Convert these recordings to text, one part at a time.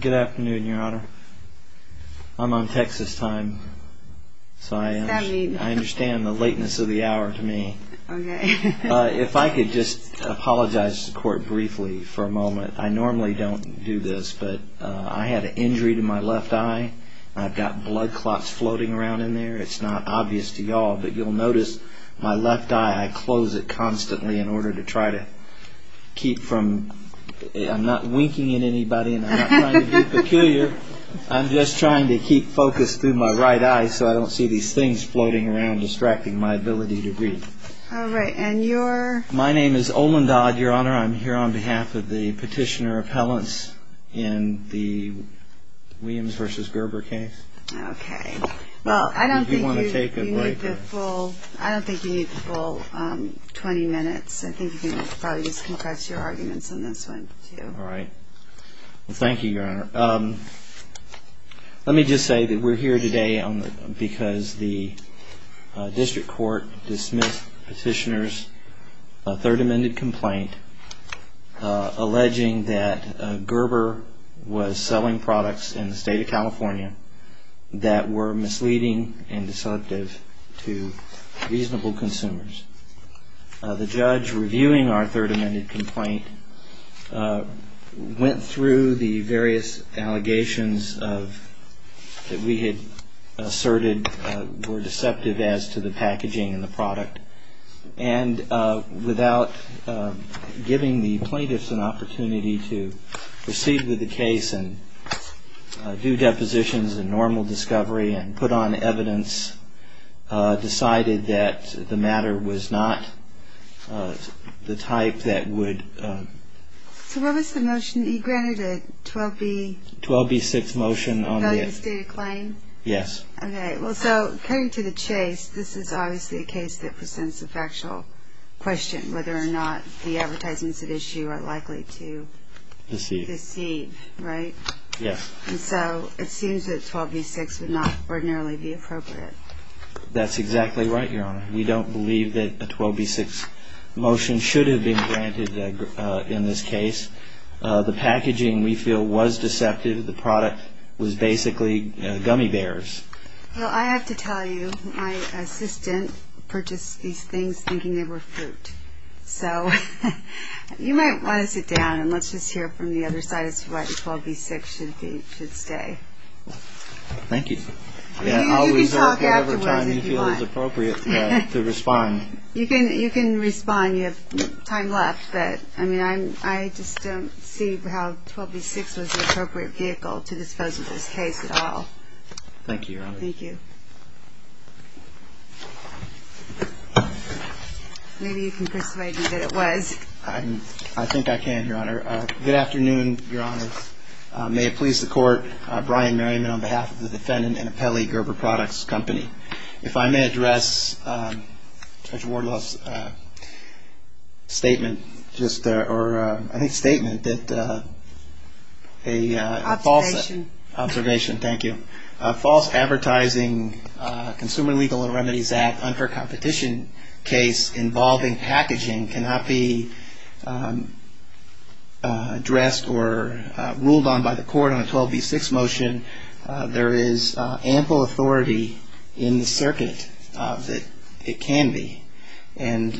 Good afternoon, Your Honor. I'm on Texas time, so I understand the lateness of the hour to me. Okay. If I could just apologize to the court briefly for a moment. I normally don't do this, but I had an injury to my left eye. I've got blood clots floating around in there. It's not obvious to y'all, but you'll notice my left eye, I close it constantly in order to try to keep from I'm not winking at anybody, and I'm not trying to be peculiar. I'm just trying to keep focus through my right eye, so I don't see these things floating around distracting my ability to read. All right. And you're? My name is Olin Dodd, Your Honor. I'm here on behalf of the petitioner appellants in the Williams v. Gerber case. Okay. Well, I don't think you need the full 20 minutes. I think you can probably just confess your arguments in this one, too. All right. Well, thank you, Your Honor. Let me just say that we're here today because the district court dismissed petitioner's third amended complaint alleging that Gerber was selling products in the state of California that were misleading and deceptive to reasonable consumers. The judge reviewing our third amended complaint went through the various allegations that we had asserted were deceptive as to the packaging and the product, and without giving the plaintiffs an opportunity to proceed with the case and do depositions and normal discovery and put on evidence, decided that the matter was not the type that would... So what was the motion? You granted a 12B... 12B6 motion on the... ...valued state of claim? Yes. Okay. Well, so, coming to the chase, this is obviously a case that presents a factual question, whether or not the advertisements at issue are likely to... Deceive. Deceive, right? Yes. And so it seems that 12B6 would not ordinarily be appropriate. That's exactly right, Your Honor. We don't believe that a 12B6 motion should have been granted in this case. The packaging, we feel, was deceptive. The product was basically gummy bears. Well, I have to tell you, my assistant purchased these things thinking they were fruit. So you might want to sit down and let's just hear from the other side as to what 12B6 should say. Thank you. You can talk afterwards if you want. I'll reserve whatever time you feel is appropriate to respond. You can respond. You have time left. But, I mean, I just don't see how 12B6 was the appropriate vehicle to dispose of this case at all. Thank you, Your Honor. Thank you. Maybe you can persuade me that it was. I think I can, Your Honor. Good afternoon, Your Honors. May it please the Court, Brian Merriman on behalf of the defendant and Apelli Gerber Products Company. If I may address Judge Wardlaw's statement, or I think statement, that a false... Observation. Observation, thank you. A false advertising Consumer Legal and Remedies Act unfair competition case involving packaging cannot be addressed or ruled on by the court on a 12B6 motion. There is ample authority in the circuit that it can be. And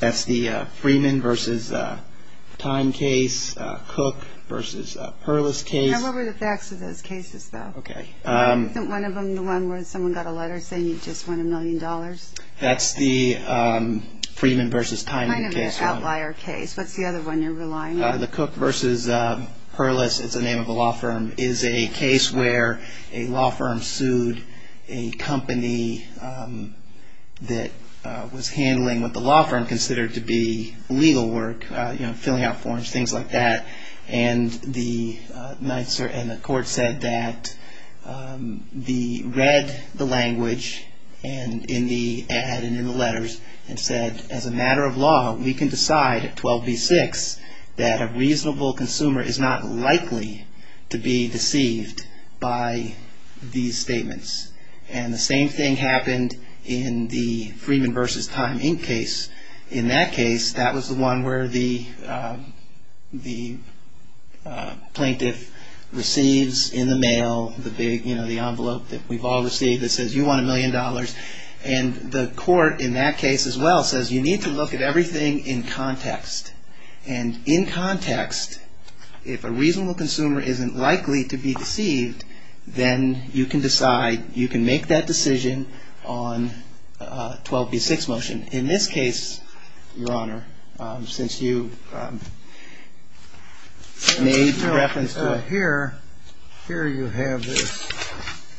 that's the Freeman v. Time case, Cook v. Perlis case. Now, what were the facts of those cases, though? Okay. Wasn't one of them the one where someone got a letter saying you just won a million dollars? That's the Freeman v. Time case, Your Honor. Kind of an outlier case. What's the other one you're relying on? The Cook v. Perlis, it's the name of the law firm, is a case where a law firm sued a company that was handling what the law firm considered to be legal work, you know, filling out forms, things like that. And the court said that they read the language in the ad and in the letters and said, as a matter of law, we can decide at 12B6 that a reasonable consumer is not likely to be deceived by these statements. And the same thing happened in the Freeman v. Time Inc. case. In that case, that was the one where the plaintiff receives in the mail the big, you know, the envelope that we've all received that says you won a million dollars. And the court in that case as well says you need to look at everything in context. And in context, if a reasonable consumer isn't likely to be deceived, then you can decide, you can make that decision on a 12B6 motion. In this case, Your Honor, since you made reference to it. Here you have this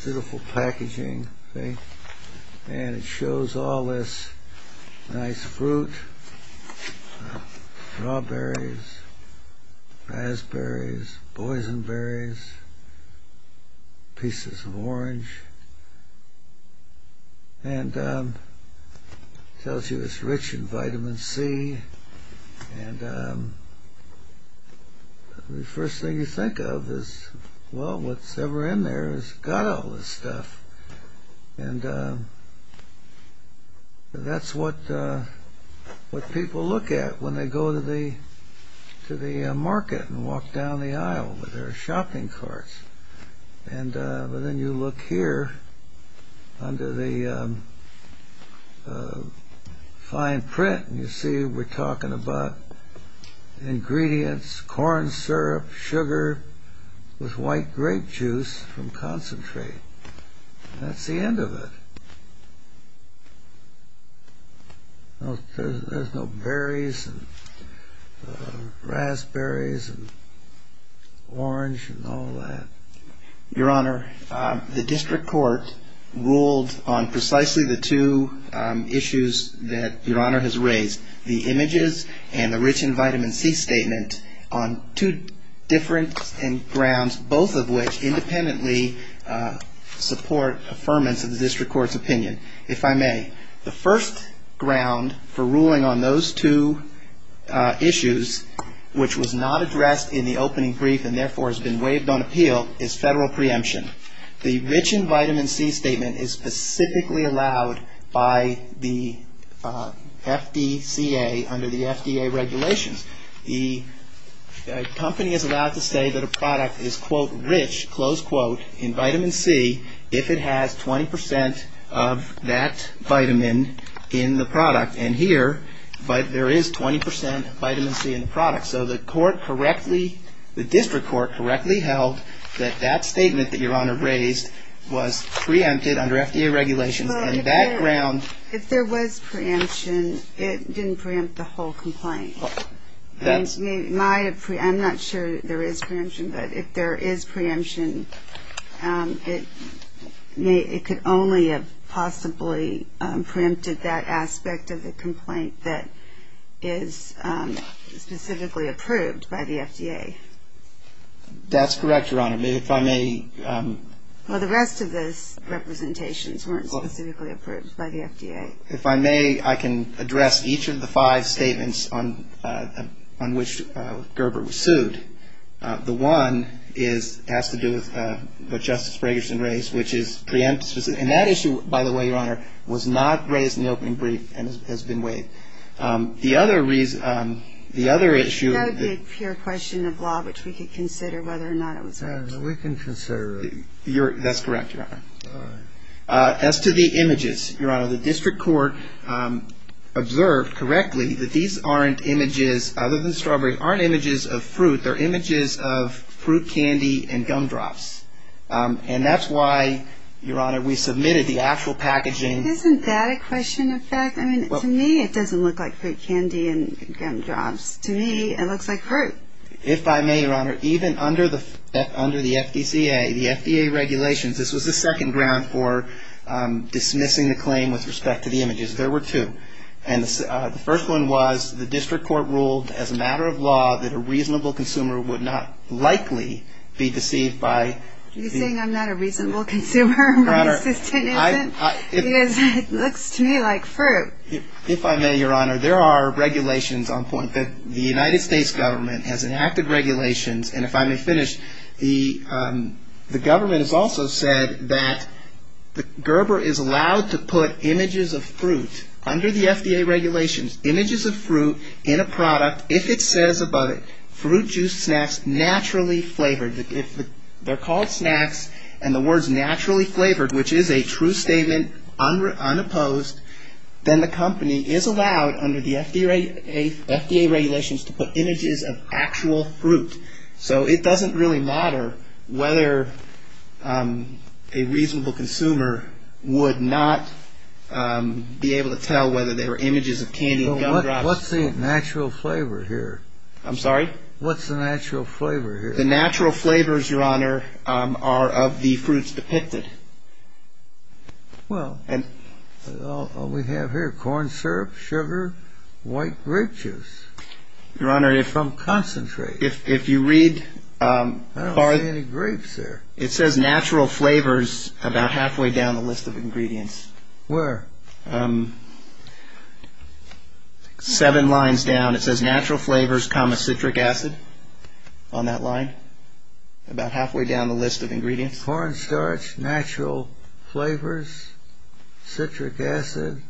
beautiful packaging, and it shows all this nice fruit, strawberries, raspberries, boysenberries, pieces of orange, and tells you it's rich in vitamin C. And the first thing you think of is, well, what's ever in there has got all this stuff. And that's what people look at when they go to the market and walk down the aisle with their shopping carts. But then you look here under the fine print, and you see we're talking about ingredients, corn syrup, sugar, with white grape juice from concentrate. That's the end of it. There's no berries, and raspberries, and orange, and all that. Your Honor, the district court ruled on precisely the two issues that Your Honor has raised, the images and the rich in vitamin C statement on two different grounds, both of which independently support affirmance of the district court's opinion, if I may. The first ground for ruling on those two issues, which was not addressed in the opening brief and therefore has been waived on appeal, is federal preemption. The rich in vitamin C statement is specifically allowed by the FDCA under the FDA regulations. The company is allowed to say that a product is, quote, rich, close quote, in vitamin C if it has 20 percent of that vitamin in the product. And here, there is 20 percent vitamin C in the product. So the court correctly, the district court correctly held that that statement that Your Honor raised was preempted under FDA regulations. If there was preemption, it didn't preempt the whole complaint. I'm not sure there is preemption, but if there is preemption, it could only have possibly preempted that aspect of the complaint that is specifically approved by the FDA. That's correct, Your Honor. If I may. Well, the rest of those representations weren't specifically approved by the FDA. If I may, I can address each of the five statements on which Gerber was sued. The one has to do with what Justice Fragerson raised, which is preemptive. And that issue, by the way, Your Honor, was not raised in the opening brief and has been waived. The other issue. That would be a pure question of law, which we could consider whether or not it was preemptive. We can consider it. That's correct, Your Honor. As to the images, Your Honor, the district court observed correctly that these aren't images, other than strawberries, aren't images of fruit. They're images of fruit candy and gumdrops. And that's why, Your Honor, we submitted the actual packaging. Isn't that a question of fact? I mean, to me, it doesn't look like fruit candy and gumdrops. To me, it looks like fruit. If I may, Your Honor, even under the FDCA, the FDA regulations, this was the second ground for dismissing the claim with respect to the images. There were two. And the first one was the district court ruled as a matter of law that a reasonable consumer would not likely be deceived by. Are you saying I'm not a reasonable consumer? My assistant isn't? Because it looks to me like fruit. If I may, Your Honor, there are regulations on point that the United States government has enacted regulations. And if I may finish, the government has also said that Gerber is allowed to put images of fruit under the FDA regulations, images of fruit in a product if it says above it, fruit juice snacks naturally flavored. If they're called snacks and the word's naturally flavored, which is a true statement, unopposed, then the company is allowed under the FDA regulations to put images of actual fruit. So it doesn't really matter whether a reasonable consumer would not be able to tell whether they were images of candy and gumdrops. What's the natural flavor here? I'm sorry? What's the natural flavor here? The natural flavors, Your Honor, are of the fruits depicted. Well, all we have here, corn syrup, sugar, white grape juice from concentrate. If you read... I don't see any grapes there. It says natural flavors about halfway down the list of ingredients. Where? Seven lines down. It says natural flavors, citric acid on that line, about halfway down the list of ingredients. Corn starch, natural flavors, citric acid,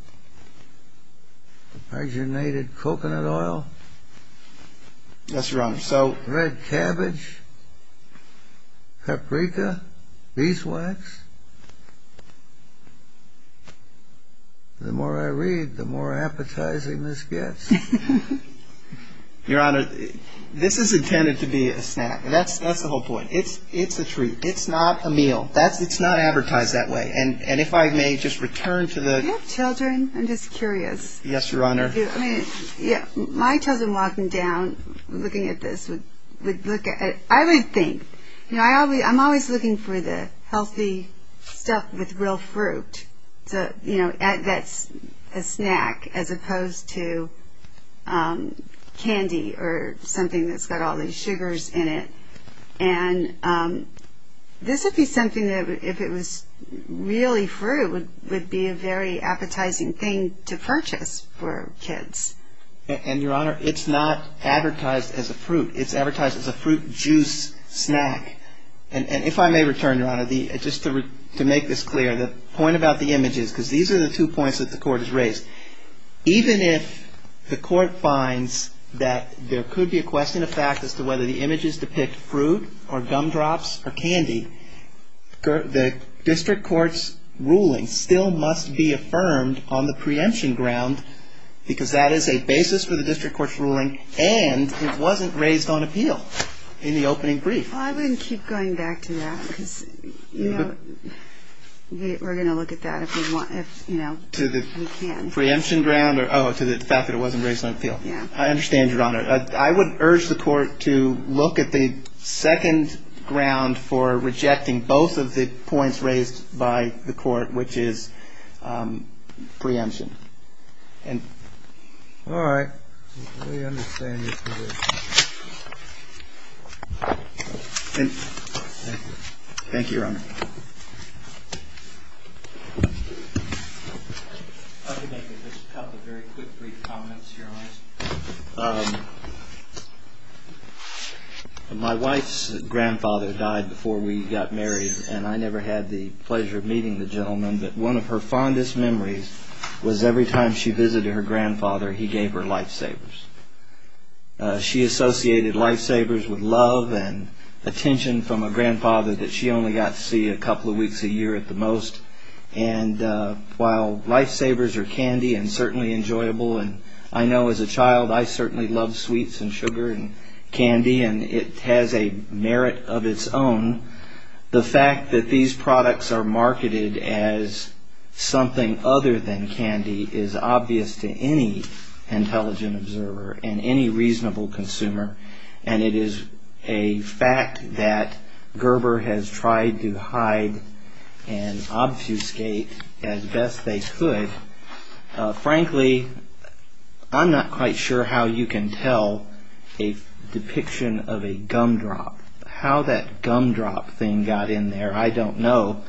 hydrogenated coconut oil. Yes, Your Honor. Red cabbage, paprika, beeswax. The more I read, the more appetizing this gets. Your Honor, this is intended to be a snack. That's the whole point. It's a treat. It's not a meal. It's not advertised that way. And if I may just return to the... Do you have children? I'm just curious. Yes, Your Honor. My children, walking down, looking at this, would look at... I would think... I'm always looking for the healthy stuff with real fruit that's a snack, as opposed to candy or something that's got all these sugars in it. And this would be something that, if it was really fruit, it would be a very appetizing thing to purchase for kids. And, Your Honor, it's not advertised as a fruit. It's advertised as a fruit juice snack. And if I may return, Your Honor, just to make this clear, the point about the images, because these are the two points that the Court has raised. Even if the Court finds that there could be a question of fact as to whether the images depict fruit or gumdrops or candy, the District Court's ruling still must be affirmed on the preemption ground because that is a basis for the District Court's ruling, and it wasn't raised on appeal in the opening brief. Well, I wouldn't keep going back to that because, you know, we're going to look at that if, you know, we can. To the preemption ground or, oh, to the fact that it wasn't raised on appeal. Yeah. I understand, Your Honor. I would urge the Court to look at the second ground for rejecting both of the points raised by the Court, which is preemption. All right. We understand your position. Thank you. Thank you, Your Honor. Thank you. I'd like to make a couple of very quick brief comments, Your Honor. My wife's grandfather died before we got married, and I never had the pleasure of meeting the gentleman, but one of her fondest memories was every time she visited her grandfather, he gave her lifesavers. She associated lifesavers with love and attention from a grandfather that she only got to see a couple of weeks a year at the most. And while lifesavers are candy and certainly enjoyable, and I know as a child I certainly loved sweets and sugar and candy, and it has a merit of its own, the fact that these products are marketed as something other than candy is obvious to any intelligent observer and any reasonable consumer, and it is a fact that Gerber has tried to hide and obfuscate as best they could. Frankly, I'm not quite sure how you can tell a depiction of a gumdrop, how that gumdrop thing got in there, I don't know.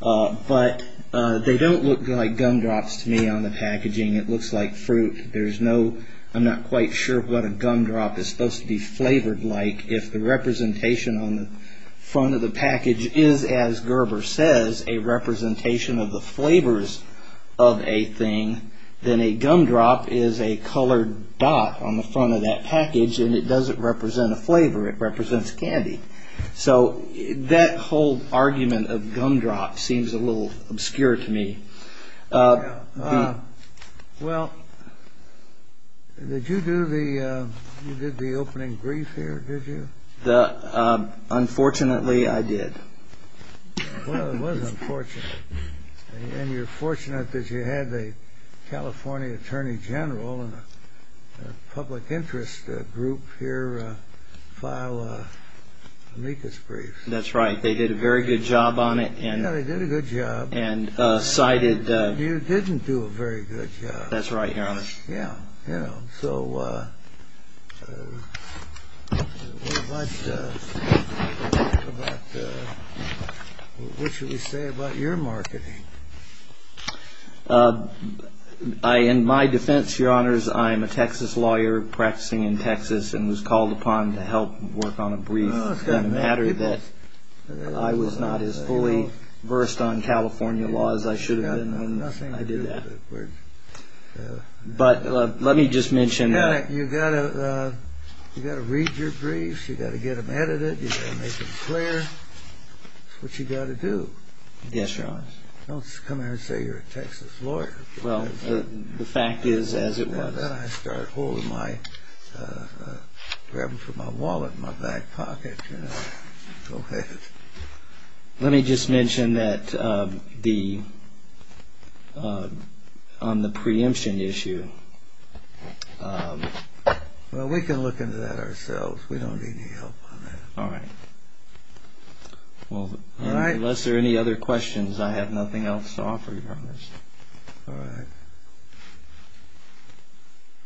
But they don't look like gumdrops to me on the packaging. It looks like fruit. I'm not quite sure what a gumdrop is supposed to be flavored like. If the representation on the front of the package is, as Gerber says, a representation of the flavors of a thing, then a gumdrop is a colored dot on the front of that package, and it doesn't represent a flavor, it represents candy. So that whole argument of gumdrop seems a little obscure to me. Well, did you do the opening brief here, did you? Unfortunately, I did. Well, it was unfortunate. And you're fortunate that you had the California Attorney General and a public interest group here file an amicus brief. That's right. They did a very good job on it. Yeah, they did a good job. You didn't do a very good job. That's right, Your Honor. What should we say about your marketing? In my defense, Your Honors, I'm a Texas lawyer practicing in Texas and was called upon to help work on a brief. It doesn't matter that I was not as fully versed on California law as I should have been when I did that. But let me just mention... You've got to read your briefs, you've got to get them edited, you've got to make them clear. That's what you've got to do. Yes, Your Honor. Don't come in here and say you're a Texas lawyer. Well, the fact is as it was. After that, I started grabbing for my wallet in my back pocket. Let me just mention that on the preemption issue... Well, we can look into that ourselves. We don't need any help on that. Unless there are any other questions, I have nothing else to offer, Your Honor. All right.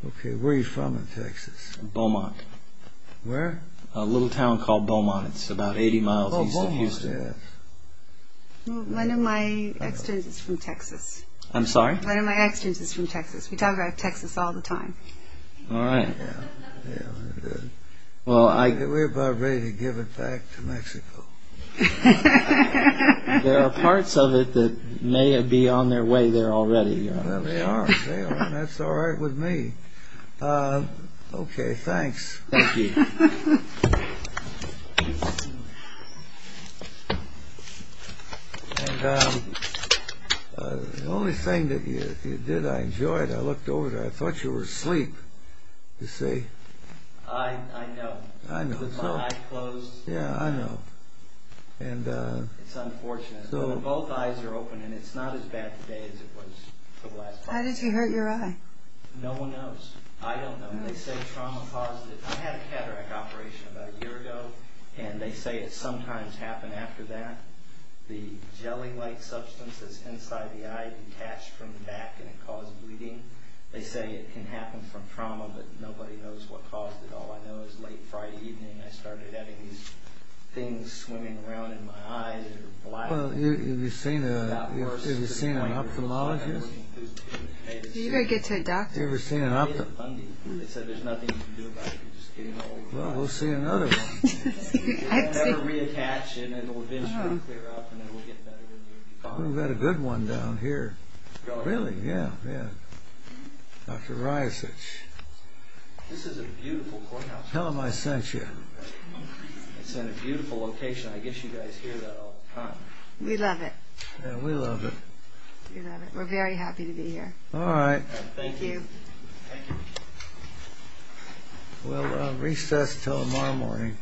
Okay, where are you from in Texas? Beaumont. Where? A little town called Beaumont. It's about 80 miles east of Houston. Oh, Beaumont, yes. One of my ex-stints is from Texas. I'm sorry? One of my ex-stints is from Texas. We talk about Texas all the time. All right. We're about ready to give it back to Mexico. There are parts of it that may be on their way there already. They are. That's all right with me. Okay, thanks. Thank you. The only thing that you did I enjoyed. I looked over there. I thought you were asleep, you see. I know. I know, too. My eyes closed. Yeah, I know. It's unfortunate. Both eyes are open, and it's not as bad today as it was the last time. How did you hurt your eye? No one knows. I don't know. They say trauma caused it. I had a cataract operation about a year ago, and they say it sometimes happened after that. The jelly-like substance that's inside the eye detached from the back, and it caused bleeding. They say it can happen from trauma, but nobody knows what caused it. All I know is late Friday evening, I started having these things swimming around in my eyes. Well, have you seen an ophthalmologist? Have you ever seen an ophthalmologist? Well, we'll see another one. We've got a good one down here. Really? Yeah, yeah. Dr. Ryasich. Tell him I sent you. We love it. Yeah, we love it. We love it. We're very happy to be here. All right. Thank you. We'll recess until tomorrow morning.